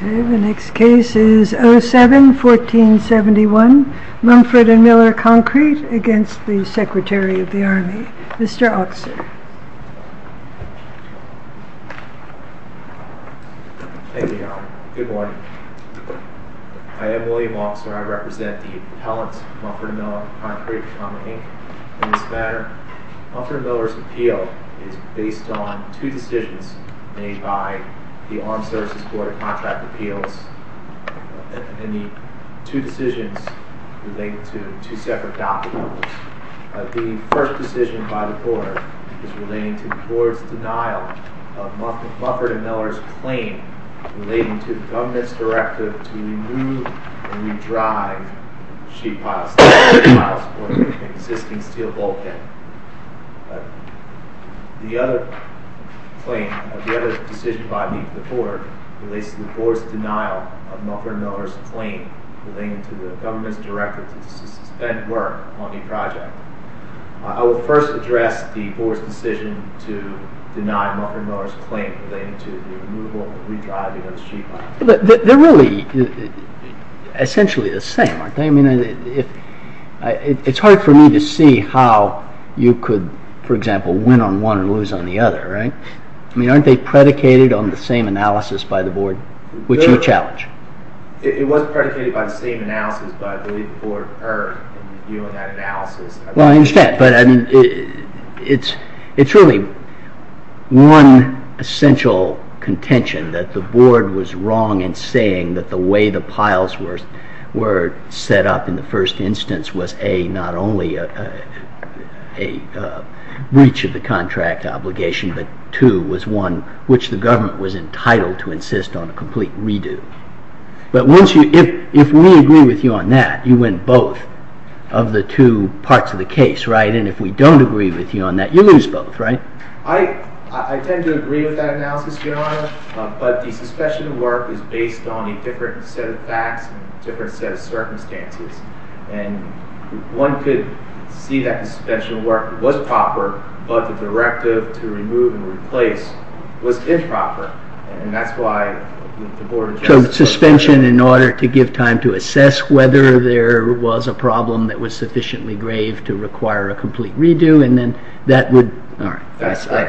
07-1471 Mumford & Miller Concrete v. Secretary of the Army I am William Walser. I represent the appellants of Mumford & Miller Concrete v. Common, Inc. In this matter, Mumford & Miller's appeal is based on two decisions made by the Armed Services Board of Contract Appeals and the two decisions relating to two separate documents. The first decision by the Board is relating to the Board's denial of Mumford & Miller's claim relating to the government's directive to remove and re-drive sheet piles of existing steel bulkhead. The other claim, the other decision by the Board, relates to the Board's denial of Mumford & Miller's claim relating to the government's directive to suspend work on the project. I will first address the Board's decision to deny Mumford & Miller's claim relating to the removal and re-drive of those sheet piles. They're really essentially the same, aren't they? It's hard for me to see how you could, for example, win on one and lose on the other, right? Aren't they predicated on the same analysis by the Board, which you challenge? It was predicated on the same analysis, but I believe the Board heard you in that analysis. Well, I understand, but it's really one essential contention that the Board was wrong in saying that the way the piles were set up in the first instance was not only a breach of the contract obligation, but two, was one which the government was entitled to insist on a complete redo. But if we agree with you on that, you win both of the two parts of the case, right? And if we don't agree with you on that, you lose both, right? I tend to agree with that analysis, Your Honor, but the suspension of work is based on a different set of facts and a different set of circumstances. One could see that the suspension of work was proper, but the directive to remove and replace was improper. Suspension in order to give time to assess whether there was a problem that was sufficiently grave to require a complete redo, and then that would... And that's why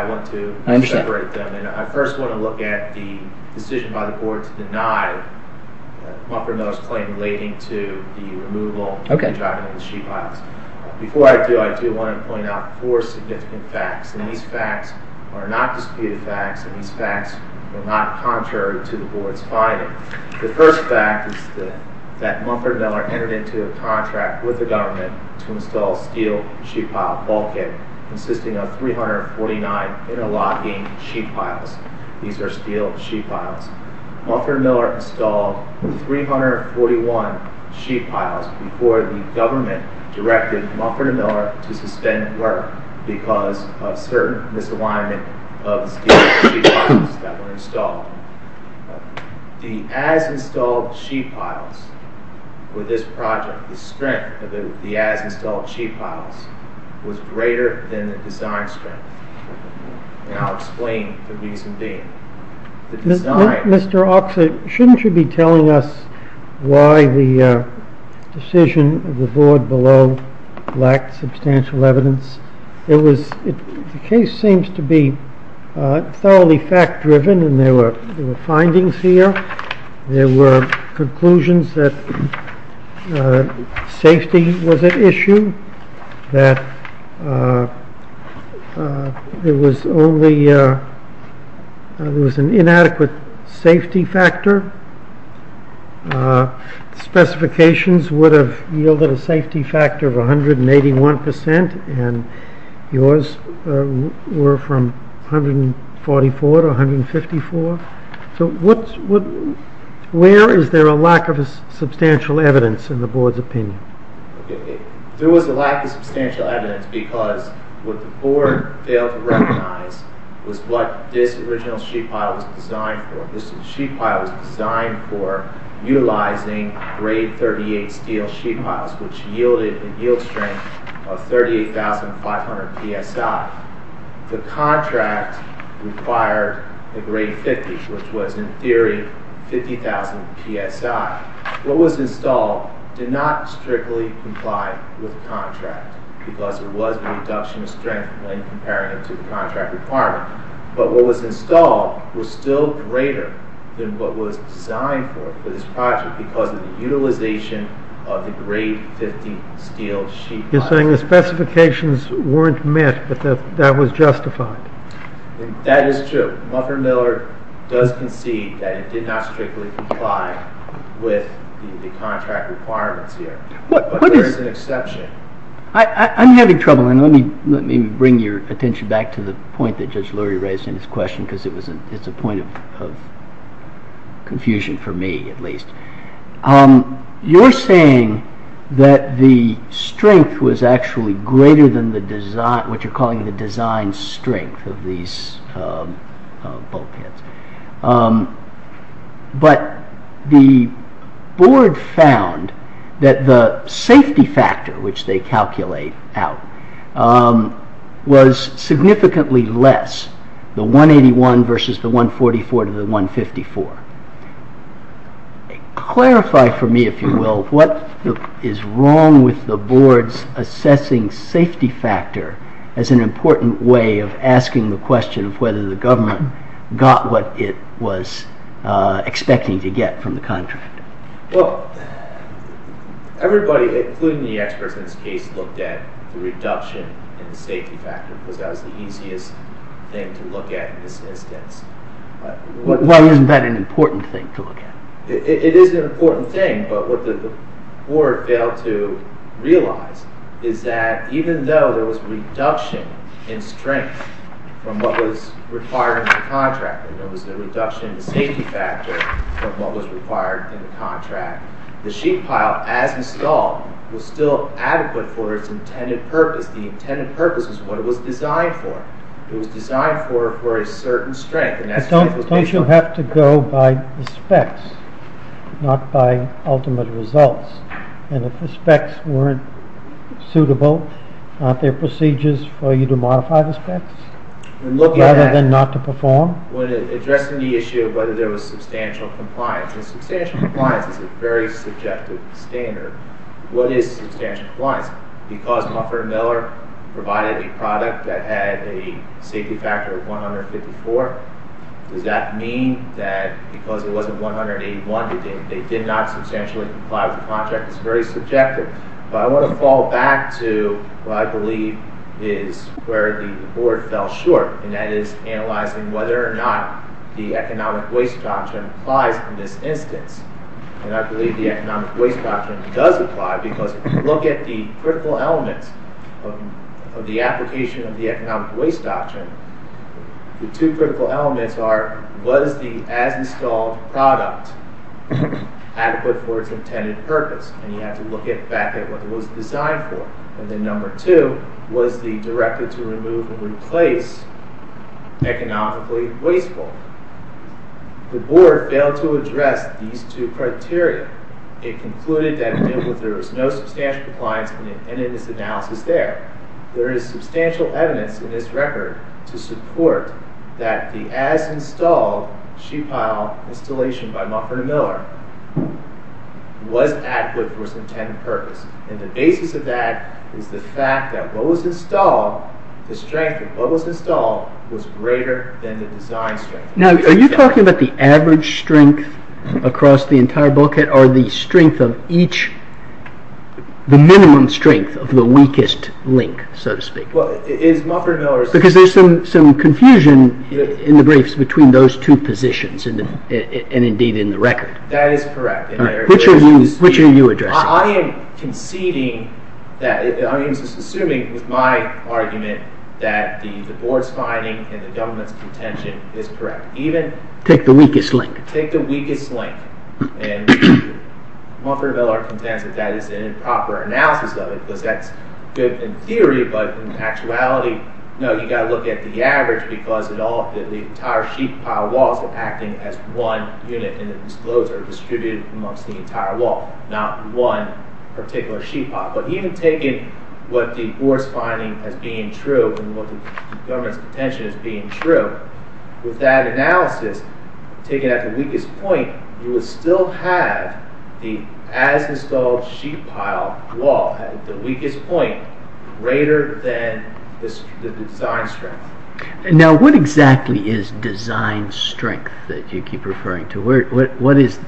I want to separate them, and I first want to look at the decision by the Board to deny Mufferno's claim relating to the removal and driving of the sheet piles. Before I do, I do want to point out four significant facts, and these facts are not disputed facts, and these facts are not contrary to the Board's finding. The first fact is that Muffern Miller entered into a contract with the government to install steel sheet pile bulkhead consisting of 349 interlocking sheet piles. These are steel sheet piles. Muffern Miller installed 341 sheet piles before the government directed Muffern Miller to suspend work because of certain misalignment of the steel sheet piles that were installed. The as-installed sheet piles with this project, the strength of the as-installed sheet piles was greater than the design strength. I'll explain the reason being. Mr. Oxley, shouldn't you be telling us why the decision of the Board below lacked substantial evidence? The case seems to be thoroughly fact-driven, and there were findings here. There were conclusions that safety was at issue, that there was an inadequate safety factor. Specifications would have yielded a safety factor of 181%, and yours were from 144 to 154. Where is there a lack of substantial evidence in the Board's opinion? There was a lack of substantial evidence because what the Board failed to recognize was what this original sheet pile was designed for. This sheet pile was designed for utilizing grade 38 steel sheet piles, which yielded a yield strength of 38,500 psi. The contract required a grade 50, which was in theory 50,000 psi. What was installed did not strictly comply with the contract because it was a reduction of strength when comparing it to the contract requirement. But what was installed was still greater than what was designed for this project because of the utilization of the grade 50 steel sheet piles. You're saying the specifications weren't met, but that was justified. That is true. Muffer-Miller does concede that it did not strictly comply with the contract requirements here. But there is an exception. I'm having trouble, and let me bring your attention back to the point that Judge Lurie raised in his question because it's a point of confusion for me, at least. You're saying that the strength was actually greater than what you're calling the design strength of these bulkheads. But the board found that the safety factor, which they calculate out, was significantly less, the 181 versus the 144 to the 154. Clarify for me, if you will, what is wrong with the board's assessing safety factor as an important way of asking the question of whether the government got what it was expecting to get from the contract. Everybody, including the experts in this case, looked at the reduction in the safety factor because that was the easiest thing to look at in this instance. Well, isn't that an important thing to look at? It is an important thing, but what the board failed to realize is that even though there was a reduction in strength from what was required in the contract, and there was a reduction in the safety factor from what was required in the contract, the sheet pile, as installed, was still adequate for its intended purpose. The intended purpose was what it was designed for. It was designed for a certain strength. Don't you have to go by the specs, not by ultimate results? And if the specs weren't suitable, aren't there procedures for you to modify the specs rather than not to perform? When addressing the issue of whether there was substantial compliance, and substantial compliance is a very subjective standard, what is substantial compliance? Because Hufford & Miller provided a product that had a safety factor of 154, does that mean that because it wasn't 181, they did not substantially comply with the contract? It's very subjective. But I want to fall back to what I believe is where the board fell short, and that is analyzing whether or not the economic waste doctrine applies in this instance. And I believe the economic waste doctrine does apply because if you look at the critical elements of the application of the economic waste doctrine, the two critical elements are, was the as-installed product adequate for its intended purpose? And you have to look back at what it was designed for. And then number two, was the directed-to-remove-and-replace economically wasteful? The board failed to address these two criteria. It concluded that there was no substantial compliance in its analysis there. There is substantial evidence in this record to support that the as-installed sheet pile installation by Hufford & Miller was adequate for its intended purpose. And the basis of that is the fact that what was installed, the strength of what was installed, was greater than the design strength. Now, are you talking about the average strength across the entire bulkhead, or the strength of each, the minimum strength of the weakest link, so to speak? Because there's some confusion in the briefs between those two positions, and indeed in the record. That is correct. Which are you addressing? I am conceding that, I am assuming with my argument that the board's finding and the government's contention is correct. Take the weakest link. Take the weakest link. And Hufford & Miller contends that that is an improper analysis of it, because that's good in theory, but in actuality, no, you've got to look at the average, because the entire sheet pile wall is acting as one unit in the disclosure distributed amongst the entire wall, not one particular sheet pile. But even taking what the board's finding as being true, and what the government's contention as being true, with that analysis, taken at the weakest point, you would still have the as-installed sheet pile wall at the weakest point greater than the design strength. Now, what exactly is design strength that you keep referring to? What is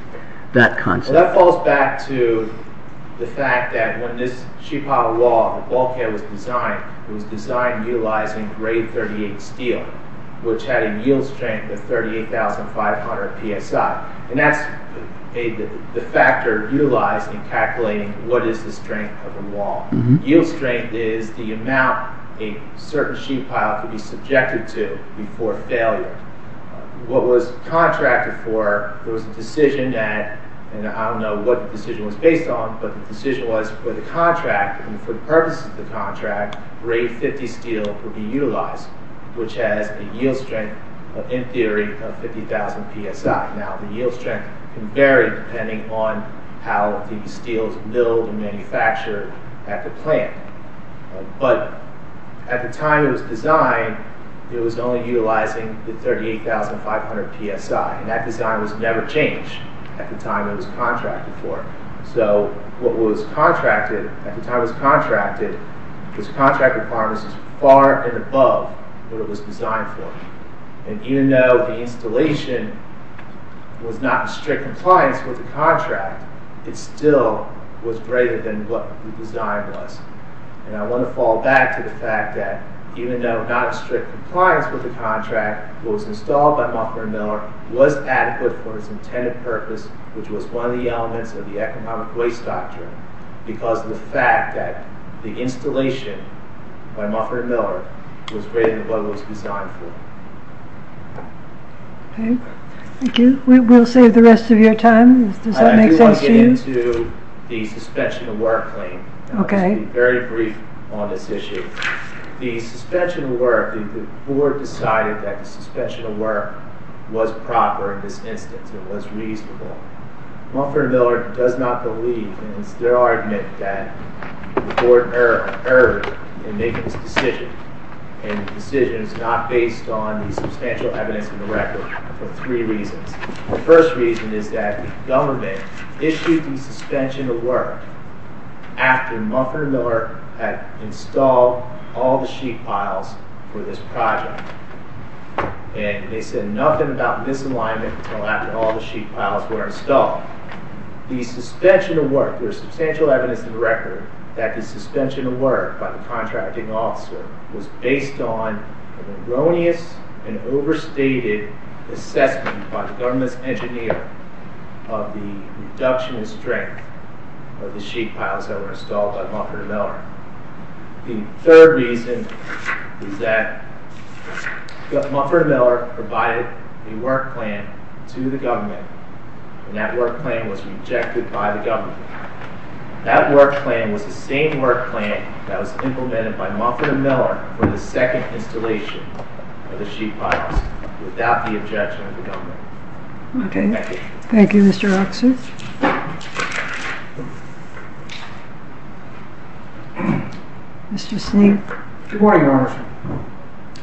that concept? That falls back to the fact that when this sheet pile wall, the bulkhead was designed, it was designed utilizing grade 38 steel, which had a yield strength of 38,500 psi. And that's the factor utilized in calculating what is the strength of a wall. Yield strength is the amount a certain sheet pile could be subjected to before failure. What was contracted for, there was a decision that, and I don't know what the decision was based on, but the decision was for the contract, and for the purposes of the contract, grade 50 steel would be utilized, which has a yield strength, in theory, of 50,000 psi. Now, the yield strength can vary depending on how the steel is milled and manufactured at the plant. But, at the time it was designed, it was only utilizing the 38,500 psi. And that design was never changed at the time it was contracted for. So, what was contracted, at the time it was contracted, was contracted harnesses far and above what it was designed for. And even though the installation was not in strict compliance with the contract, it still was greater than what the design was. And I want to fall back to the fact that, even though not in strict compliance with the contract, what was installed by Muffer and Miller was adequate for its intended purpose, which was one of the elements of the economic waste doctrine, because of the fact that the installation by Muffer and Miller was greater than what it was designed for. Okay. Thank you. We'll save the rest of your time. Does that make sense to you? I do want to get into the suspension of work claim. Okay. I'll just be very brief on this issue. The suspension of work, the board decided that the suspension of work was proper in this instance. It was reasonable. Muffer and Miller does not believe, and it's their argument, that the board erred in making this decision. And the decision is not based on the substantial evidence in the record for three reasons. The first reason is that the government issued the suspension of work after Muffer and Miller had installed all the sheet piles for this project. And they said nothing about misalignment until after all the sheet piles were installed. The suspension of work, there is substantial evidence in the record that the suspension of work by the contracting officer was based on an erroneous and overstated assessment by the government's engineer of the reduction in strength of the sheet piles that were installed by Muffer and Miller. The third reason is that Muffer and Miller provided a work plan to the government, and that work plan was rejected by the government. That work plan was the same work plan that was implemented by Muffer and Miller for the second installation of the sheet piles without the objection of the government. Okay. Thank you. Thank you, Mr. Rockson. Mr. Sneed. Good morning, Your Honor.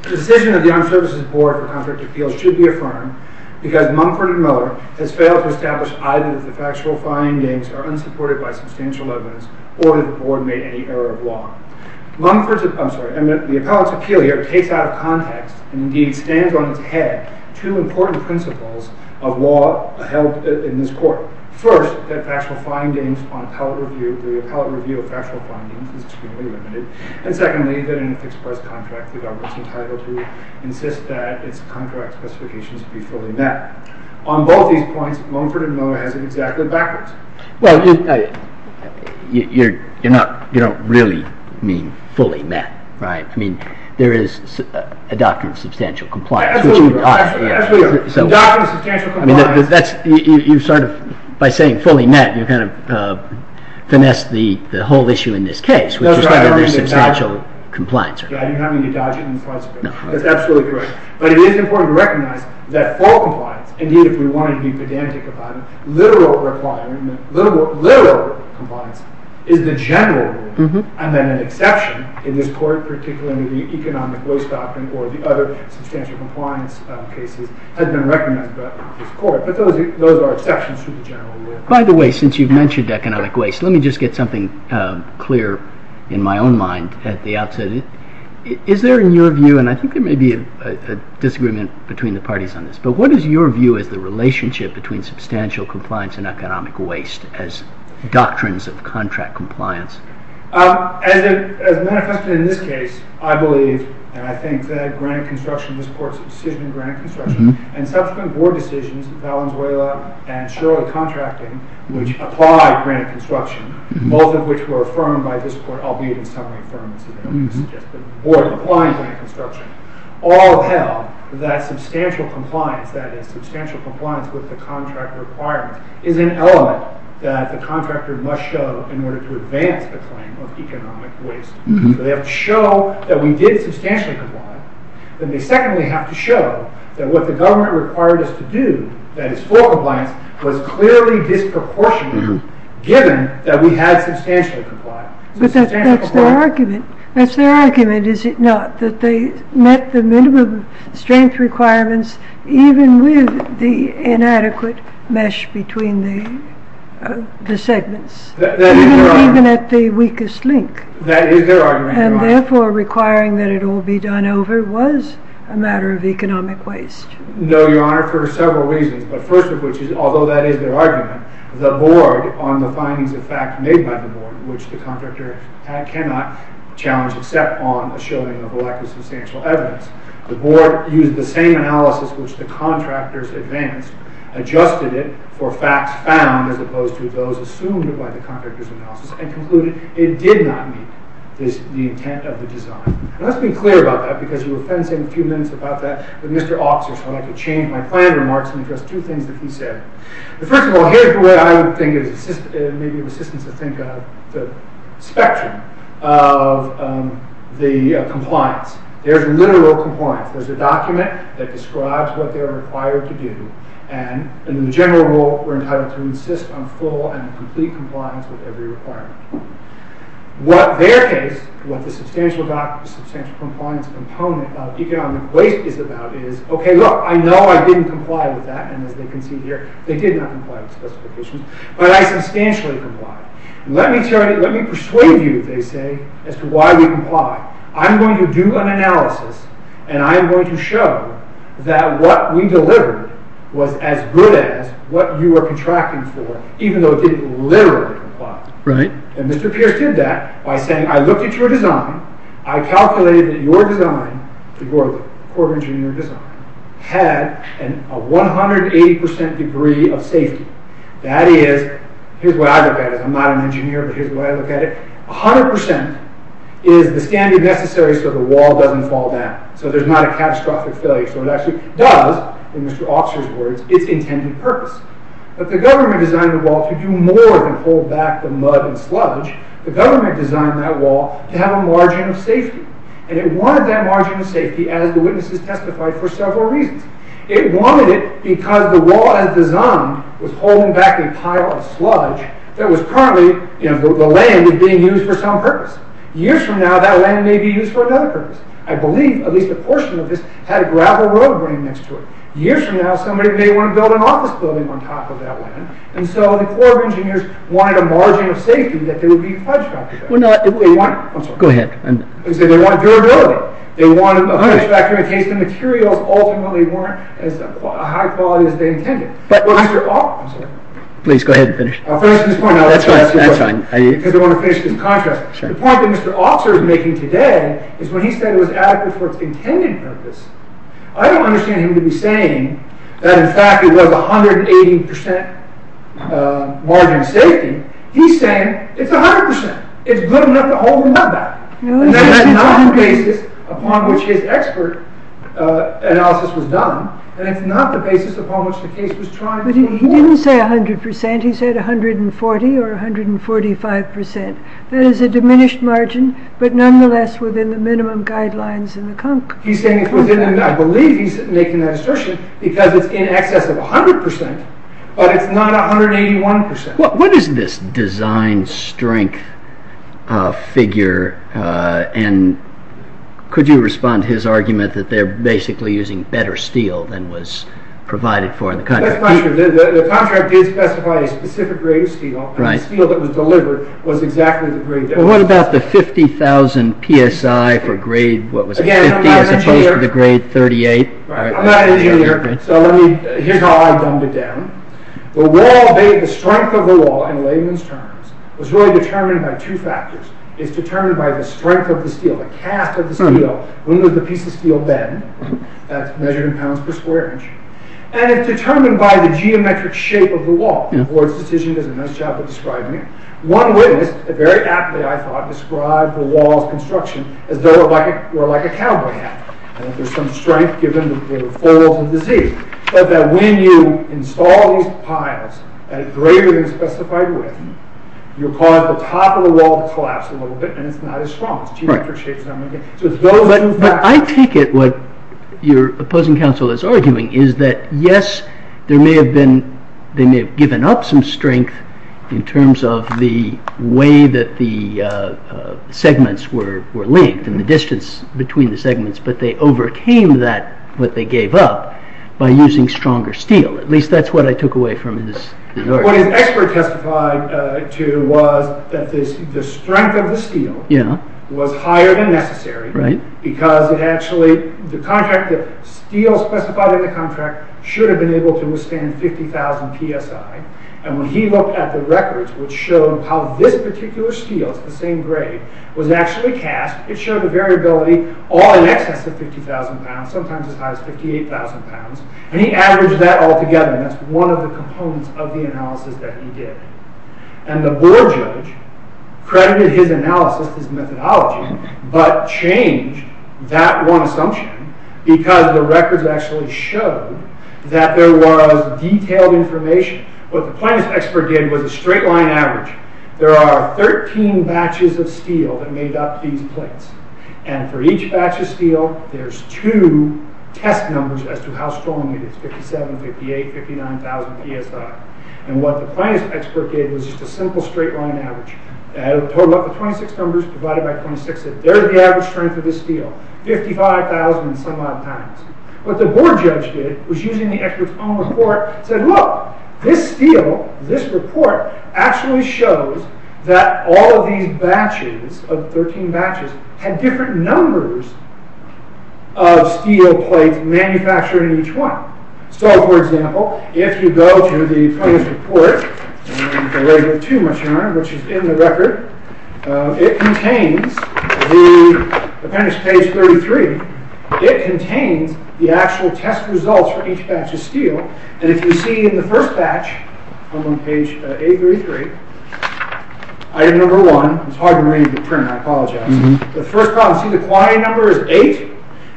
The decision of the Armed Services Board for contract appeals should be affirmed because Muffer and Miller has failed to establish either that the factual findings are unsupported by substantial evidence or that the Board made any error of law. Muffer's, I'm sorry, the appellate's appeal here takes out of context and indeed stands on its head two important principles of law held in this court. First, that factual findings on appellate review, the appellate review of factual findings is extremely limited, and secondly, that in an express contract the government's entitled to insist that its contract specifications be fully met. On both these points, Muffer and Miller has it exactly backwards. Well, you don't really mean fully met, right? I mean, there is a doctrine of substantial compliance. I mean, you sort of, by saying fully met, you kind of finesse the whole issue in this case, which is that there's substantial compliance. Yeah, you're having to dodge it in the first place. That's absolutely correct. But it is important to recognize that full compliance, indeed if we want to be pedantic about it, literal compliance is the general rule and then an exception in this court, particularly the economic waste doctrine or the other substantial compliance cases has been recognized by this court. But those are exceptions to the general rule. By the way, since you've mentioned economic waste, let me just get something clear in my own mind at the outset. Is there in your view, and I think there may be a disagreement between the parties on this, but what is your view as the relationship between substantial compliance and economic waste as doctrines of contract compliance? As manifested in this case, I believe, and I think, that granted construction, this court's decision in granted construction, and subsequent board decisions, Valenzuela and Shirley contracting, which applied granted construction, both of which were affirmed by this court, albeit in summary affirmed, this is just the board applying granted construction, all held that substantial compliance, that is substantial compliance with the contract requirement, is an element that the contractor must show in order to advance the claim of economic waste. So they have to show that we did substantially comply. Then they secondly have to show that what the government required us to do, that is full compliance, was clearly disproportionate given that we had substantially complied. But that's their argument. That's their argument, is it not? That they met the minimum strength requirements even with the inadequate mesh between the segments. That is their argument. Even at the weakest link. That is their argument, Your Honor. And therefore requiring that it all be done over was a matter of economic waste. No, Your Honor, for several reasons, but first of which is, although that is their argument, the board on the findings of fact made by the board, which the contractor cannot challenge except on a showing of a lack of substantial evidence. The board used the same analysis which the contractors advanced, adjusted it for facts found as opposed to those assumed by the contractor's analysis, and concluded it did not meet the intent of the design. Now let's be clear about that because you were fencing a few minutes about that with Mr. Officer, so I'd like to change my planned remarks and address two things that he said. First of all, here's the way I would think of the spectrum of the compliance. There's literal compliance. There's a document that describes what they are required to do, and in the general rule we're entitled to insist on full and complete compliance with every requirement. What their case, what the substantial compliance component of economic waste is about is, okay, look, I know I didn't comply with that, and as they can see here, they did not comply with specifications, but I substantially complied. Let me persuade you, they say, as to why we complied. I'm going to do an analysis, and I'm going to show that what we delivered was as good as what you were contracting for, even though it didn't literally comply. And Mr. Pierce did that by saying, I looked at your design, I calculated that your design, your Corps of Engineers design, had a 180% degree of safety. That is, here's what I look at, I'm not an engineer, but here's the way I look at it, 100% is the standing necessary so the wall doesn't fall down. So there's not a catastrophic failure. So it actually does, in Mr. Officer's words, its intended purpose. But the government designed the wall to do more than hold back the mud and sludge. The government designed that wall to have a margin of safety, and it wanted that margin of safety, as the witnesses testified, for several reasons. It wanted it because the wall, as designed, was holding back a pile of sludge that was currently, you know, the land being used for some purpose. Years from now, that land may be used for another purpose. I believe at least a portion of this had a gravel road running next to it. Years from now, somebody may want to build an office building on top of that land, and so the Corps of Engineers wanted a margin of safety that they would be fudged on. They wanted durability. They wanted a 100% guarantee in case the materials ultimately weren't as high quality as they intended. But Mr. Officer... Please go ahead and finish. I'll finish at this point. That's fine, that's fine. Because I want to finish this contrast. The point that Mr. Officer is making today is when he said it was adequate for its intended purpose, I don't understand him to be saying that, in fact, it was 180% margin of safety. He's saying it's 100%. It's good enough to hold the wall back. And that's not the basis upon which his expert analysis was done, and it's not the basis upon which the case was tried. But he didn't say 100%. He said 140% or 145%. I believe he's making that assertion because it's in excess of 100%, but it's not 181%. What is this design strength figure, and could you respond to his argument that they're basically using better steel than was provided for in the contract? That's not true. The contract did specify a specific grade of steel, and the steel that was delivered was exactly the grade that... What about the 50,000 PSI for grade... Again, I'm not an engineer. As opposed to the grade 38. I'm not an engineer, so here's how I've dumbed it down. The wall, the strength of the wall, in layman's terms, was really determined by two factors. It's determined by the strength of the steel, the cast of the steel. When does the piece of steel bend? That's measured in pounds per square inch. And it's determined by the geometric shape of the wall. The board's decision does a nice job of describing it. One witness, very aptly, I thought, described the wall's construction as though it were like a cowboy hat. There's some strength given the folds of the Z, but that when you install these piles at a greater than specified width, you'll cause the top of the wall to collapse a little bit, and it's not as strong. It's a geometric shape. I take it what your opposing counsel is arguing is that, yes, they may have given up some strength in terms of the way that the segments were linked and the distance between the segments, but they overcame that, what they gave up, by using stronger steel. At least that's what I took away from his theory. What his expert testified to was that the strength of the steel was higher than necessary because the steel specified in the contract should have been able to withstand 50,000 psi. When he looked at the records, which showed how this particular steel, it's the same grade, was actually cast, it showed a variability all in excess of 50,000 pounds, sometimes as high as 58,000 pounds. He averaged that all together. That's one of the components of the analysis that he did. The board judge credited his analysis, his methodology, but changed that one assumption because the records actually showed that there was detailed information. What the plaintiff's expert did was a straight line average. There are 13 batches of steel that made up these plates. For each batch of steel, there's two test numbers as to how strong it is, 57, 58, 59,000 psi. What the plaintiff's expert gave was just a simple straight line average. The 26 numbers divided by 26, they're the average strength of the steel, 55,000 and some odd pounds. What the board judge did was using the Eckert's own report, said, look, this steel, this report, actually shows that all of these batches, of 13 batches, had different numbers of steel plates manufactured in each one. For example, if you go to the plaintiff's report, the one with too much yarn, which is in the record, it contains, appendix page 33, it contains the actual test results for each batch of steel. If you see in the first batch, I'm on page 833, item number one, it's hard to read the print, I apologize. The first column, see the quantity number is eight,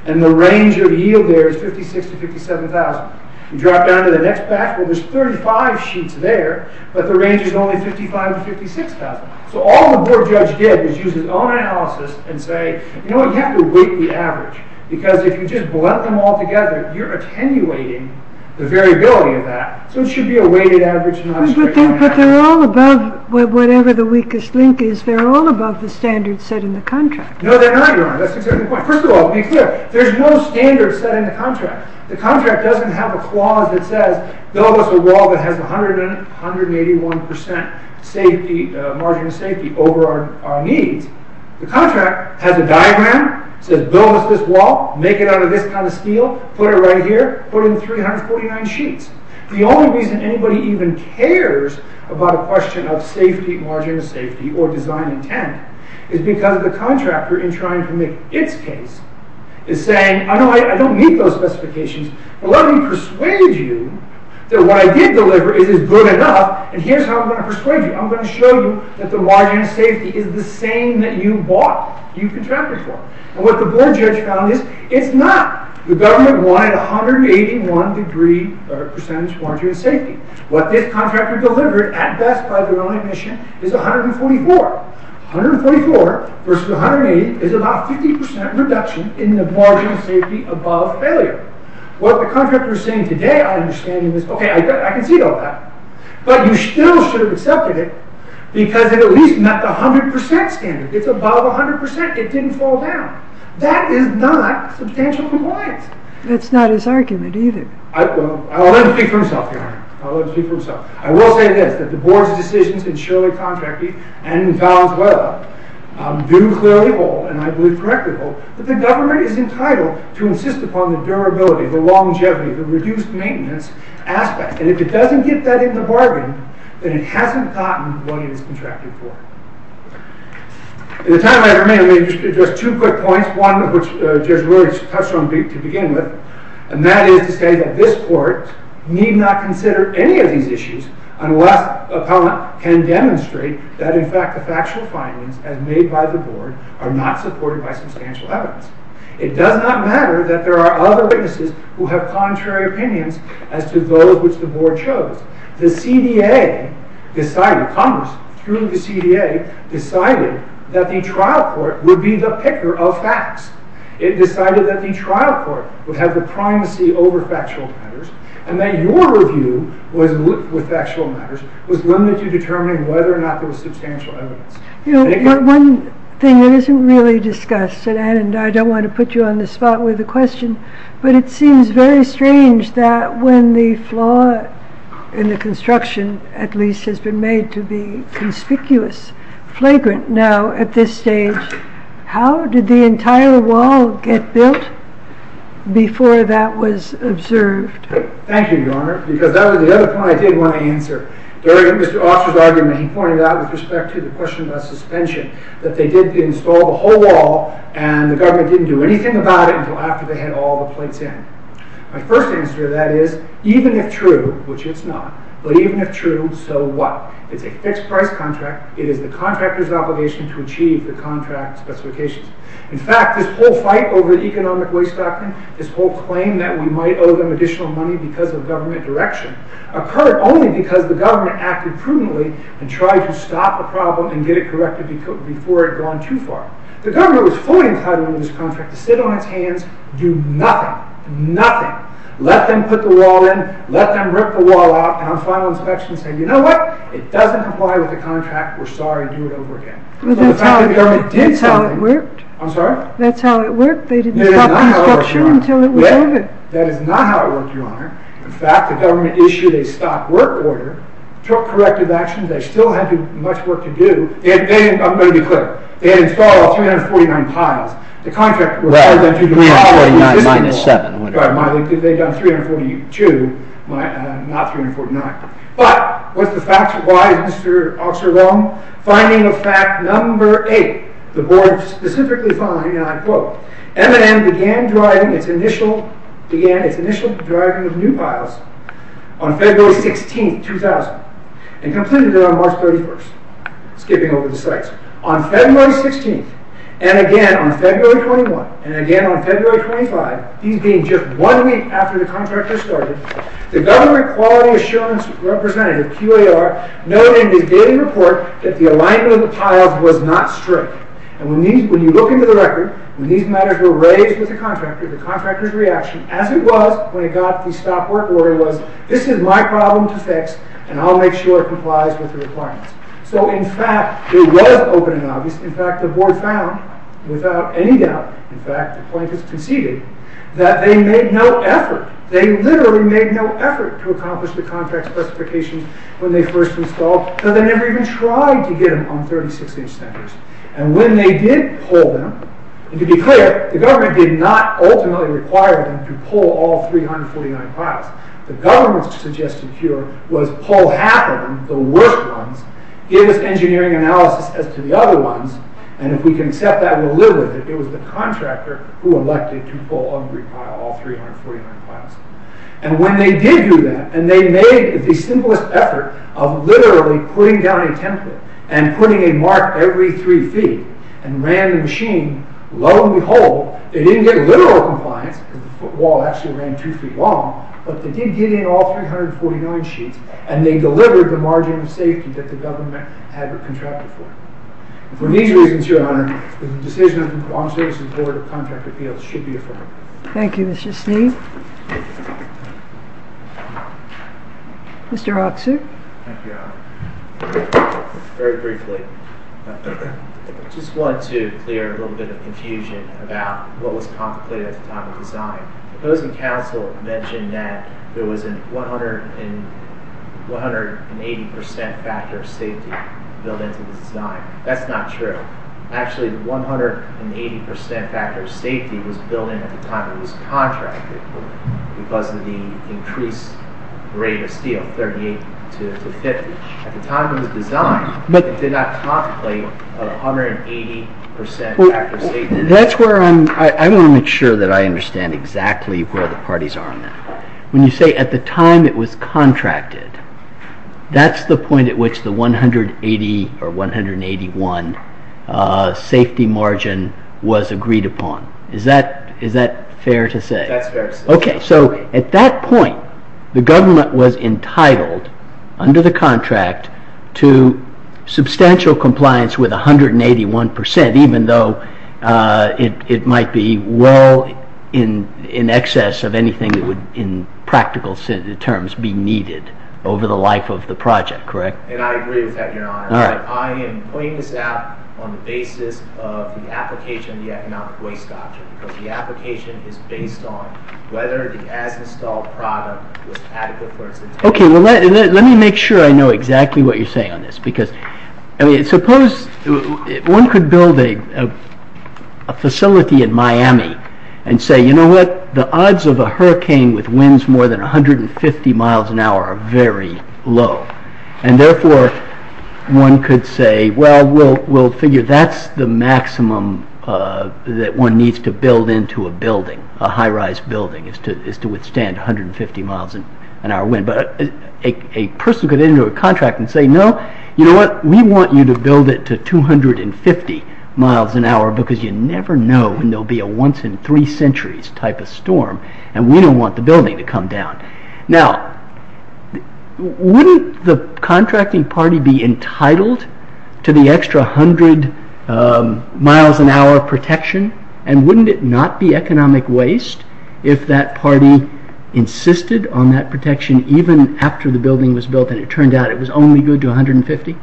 and the range of yield there is 56,000 to 57,000. You drop down to the next batch, well, there's 35 sheets there, but the range is only 55,000 to 56,000. All the board judge did was use his own analysis and say, you know what, you have to weight the average, because if you just blend them all together, you're attenuating the variability of that. So it should be a weighted average, not a straight line average. But they're all above, whatever the weakest link is, they're all above the standards set in the contract. No, they're not, Your Honor, that's exactly the point. First of all, to be clear, there's no standard set in the contract. The contract doesn't have a clause that says, build us a wall that has 181% margin of safety over our needs. The contract has a diagram, says build us this wall, make it out of this kind of steel, put it right here, put in 349 sheets. The only reason anybody even cares about a question of safety, margin of safety, or design intent, is because the contractor, in trying to make its case, is saying, I know I don't meet those specifications, but let me persuade you that what I did deliver is good enough, and here's how I'm going to persuade you. I'm going to show you that the margin of safety is the same that you bought, you contracted for. And what the board judge found is, it's not, the government wanted 181% margin of safety. What this contractor delivered, at best by their own admission, is 144. 144 versus 180 is about 50% reduction in the margin of safety above failure. What the contractor is saying today, I understand, is, okay, I can see all that. But you still should have accepted it, because it at least met the 100% standard. It's above 100%. It didn't fall down. That is not substantial compliance. That's not his argument either. I'll let him speak for himself here. I'll let him speak for himself. I will say this, that the board's decisions in Shirley Contracting and in Valenzuela do clearly hold, and I believe correctly hold, that the government is entitled to insist upon the durability, the longevity, the reduced maintenance aspects. And if it doesn't get that in the bargain, then it hasn't gotten what it is contracted for. In the time I have remaining, I'll just address two quick points, one of which Judge Ruhrig touched on to begin with, and that is to say that this court need not consider any of these issues unless a parliament can demonstrate that, in fact, the factual findings as made by the board are not supported by substantial evidence. It does not matter that there are other witnesses who have contrary opinions as to those which the board chose. The CDA decided, Congress, through the CDA, decided that the trial court would be the picker of facts. It decided that the trial court would have the primacy over factual matters, and that your review with factual matters was limited to determining whether or not there was substantial evidence. One thing that isn't really discussed, and I don't want to put you on the spot with the question, but it seems very strange that when the flaw in the construction, at least, has been made to be conspicuous, flagrant now at this stage, how did the entire wall get built before that was observed? Thank you, Your Honor, because that was the other point I did want to answer. During Mr. Officer's argument, he pointed out with respect to the question about suspension that they did install the whole wall and the government didn't do anything about it until after they had all the plates in. My first answer to that is, even if true, which it's not, but even if true, so what? It's a fixed-price contract. It is the contractor's obligation to achieve the contract specifications. In fact, this whole fight over the economic waste doctrine, this whole claim that we might owe them additional money because of government direction, occurred only because the government acted prudently and tried to stop the problem and get it corrected before it had gone too far. The government was fully entitled to this contract, to sit on its hands, do nothing, nothing, let them put the wall in, let them rip the wall out, and on final inspection say, you know what, it doesn't comply with the contract, we're sorry, do it over again. That's how it worked. I'm sorry? That's how it worked. They didn't stop the construction until it was over. That is not how it worked, Your Honor. In fact, the government issued a stop-work order, took corrective actions, they still had much work to do, I'm going to be clear, they had installed 349 piles. The contract required them to do all of the physical work. They had done 342, not 349. But, what's the facts? Why is Mr. Oxler wrong? Finding of fact number eight, the board specifically found, and I quote, M&M began its initial driving of new piles on February 16th, 2000, and completed it on March 31st, skipping over the sites. On February 16th, and again on February 21, and again on February 25, these being just one week after the contractor started, the government quality assurance representative, QAR, noted in his daily report that the alignment of the piles was not straight. And when you look into the record, when these matters were raised with the contractor, the contractor's reaction, as it was when it got the stop-work order, was, this is my problem to fix, and I'll make sure it complies with the requirements. So, in fact, it was open and obvious. In fact, the board found, without any doubt, in fact, the plaintiffs conceded, that they made no effort. They literally made no effort to accomplish the contract specifications when they first installed, and they never even tried to get them on 36-inch centers. And when they did pull them, and to be clear, the government did not ultimately require them to pull all 349 piles. The government's suggested cure was pull half of them, the worst ones, give us engineering analysis as to the other ones, and if we can accept that, we'll live with it. It was the contractor who elected to pull every pile, all 349 piles. And when they did do that, and they made the simplest effort of literally putting down a template and putting a mark every three feet, and ran the machine, lo and behold, they didn't get literal compliance, because the foot wall actually ran two feet long, but they did get in all 349 sheets, and they delivered the margin of safety that the government had contracted for. For these reasons, Your Honor, the decision of the Longstreet Board of Contract Appeals should be affirmed. Thank you, Mr. Sneed. Mr. Aksu. Thank you, Your Honor. Very briefly, I just wanted to clear a little bit of confusion about what was contemplated at the time of design. The opposing counsel mentioned that there was a 180% factor of safety built into the design. That's not true. Actually, the 180% factor of safety was built in at the time it was contracted for, because of the increased rate of steel, 38 to 50. At the time of the design, it did not contemplate a 180% factor of safety. That's where I want to make sure that I understand exactly where the parties are on that. When you say at the time it was contracted, that's the point at which the 180 or 181 safety margin was agreed upon. Is that fair to say? That's fair to say. At that point, the government was entitled, under the contract, to substantial compliance with 181%, even though it might be well in excess of anything that would, in practical terms, be needed over the life of the project. Correct? I agree with that, Your Honor. I am pointing this out on the basis of the application of the economic waste doctrine, because the application is based on whether the as-installed product was adequate for its intended use. Let me make sure I know exactly what you're saying on this. Suppose one could build a facility in Miami and say, you know what, the odds of a hurricane with winds more than 150 miles an hour are very low. Therefore, one could say, well, we'll figure that's the maximum that one needs to build into a building, a high-rise building, is to withstand 150 miles an hour wind. A person could enter a contract and say, no, you know what, we want you to build it to 250 miles an hour, because you never know when there'll be a once-in-three-centuries type of storm, and we don't want the building to come down. Now, wouldn't the contracting party be entitled to the extra 100 miles an hour protection, and wouldn't it not be economic waste if that party insisted on that protection even after the building was built, and it turned out it was only good to 150?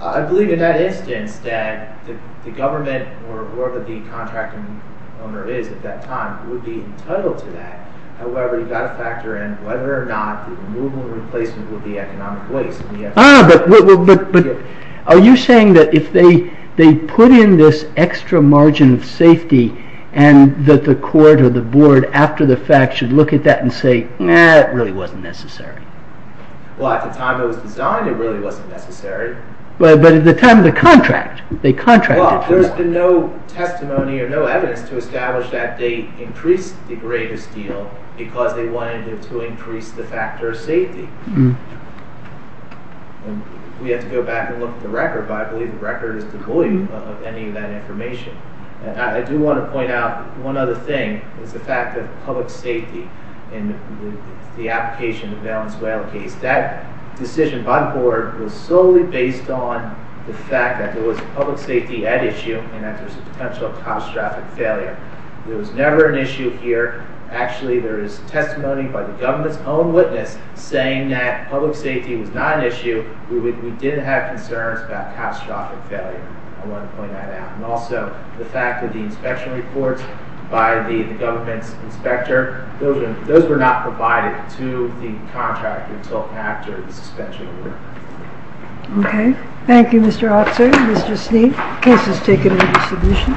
I believe in that instance that the government, or whatever the contracting owner is at that time, would be entitled to that. However, you've got to factor in whether or not the removal and replacement would be economic waste. Ah, but are you saying that if they put in this extra margin of safety, and that the court or the board after the fact should look at that and say, eh, it really wasn't necessary? Well, at the time it was designed, it really wasn't necessary. But at the time of the contract, they contracted for that. Well, there's been no testimony or no evidence to establish that they increased the greatest deal because they wanted to increase the factor of safety. We have to go back and look at the record, but I believe the record is devoid of any of that information. I do want to point out one other thing, is the fact that public safety in the application of the Valenzuela case, that decision by the board was solely based on the fact that there was public safety at issue and that there's a potential catastrophic failure. There was never an issue here. Actually, there is testimony by the government's own witness saying that public safety was not an issue. We didn't have concerns about catastrophic failure. I want to point that out. And also, the fact that the inspection reports by the government's inspector, those were not provided to the contract until after the suspension of work. Okay. Thank you, Mr. Officer. Mr. Sneed, case is taken into submission.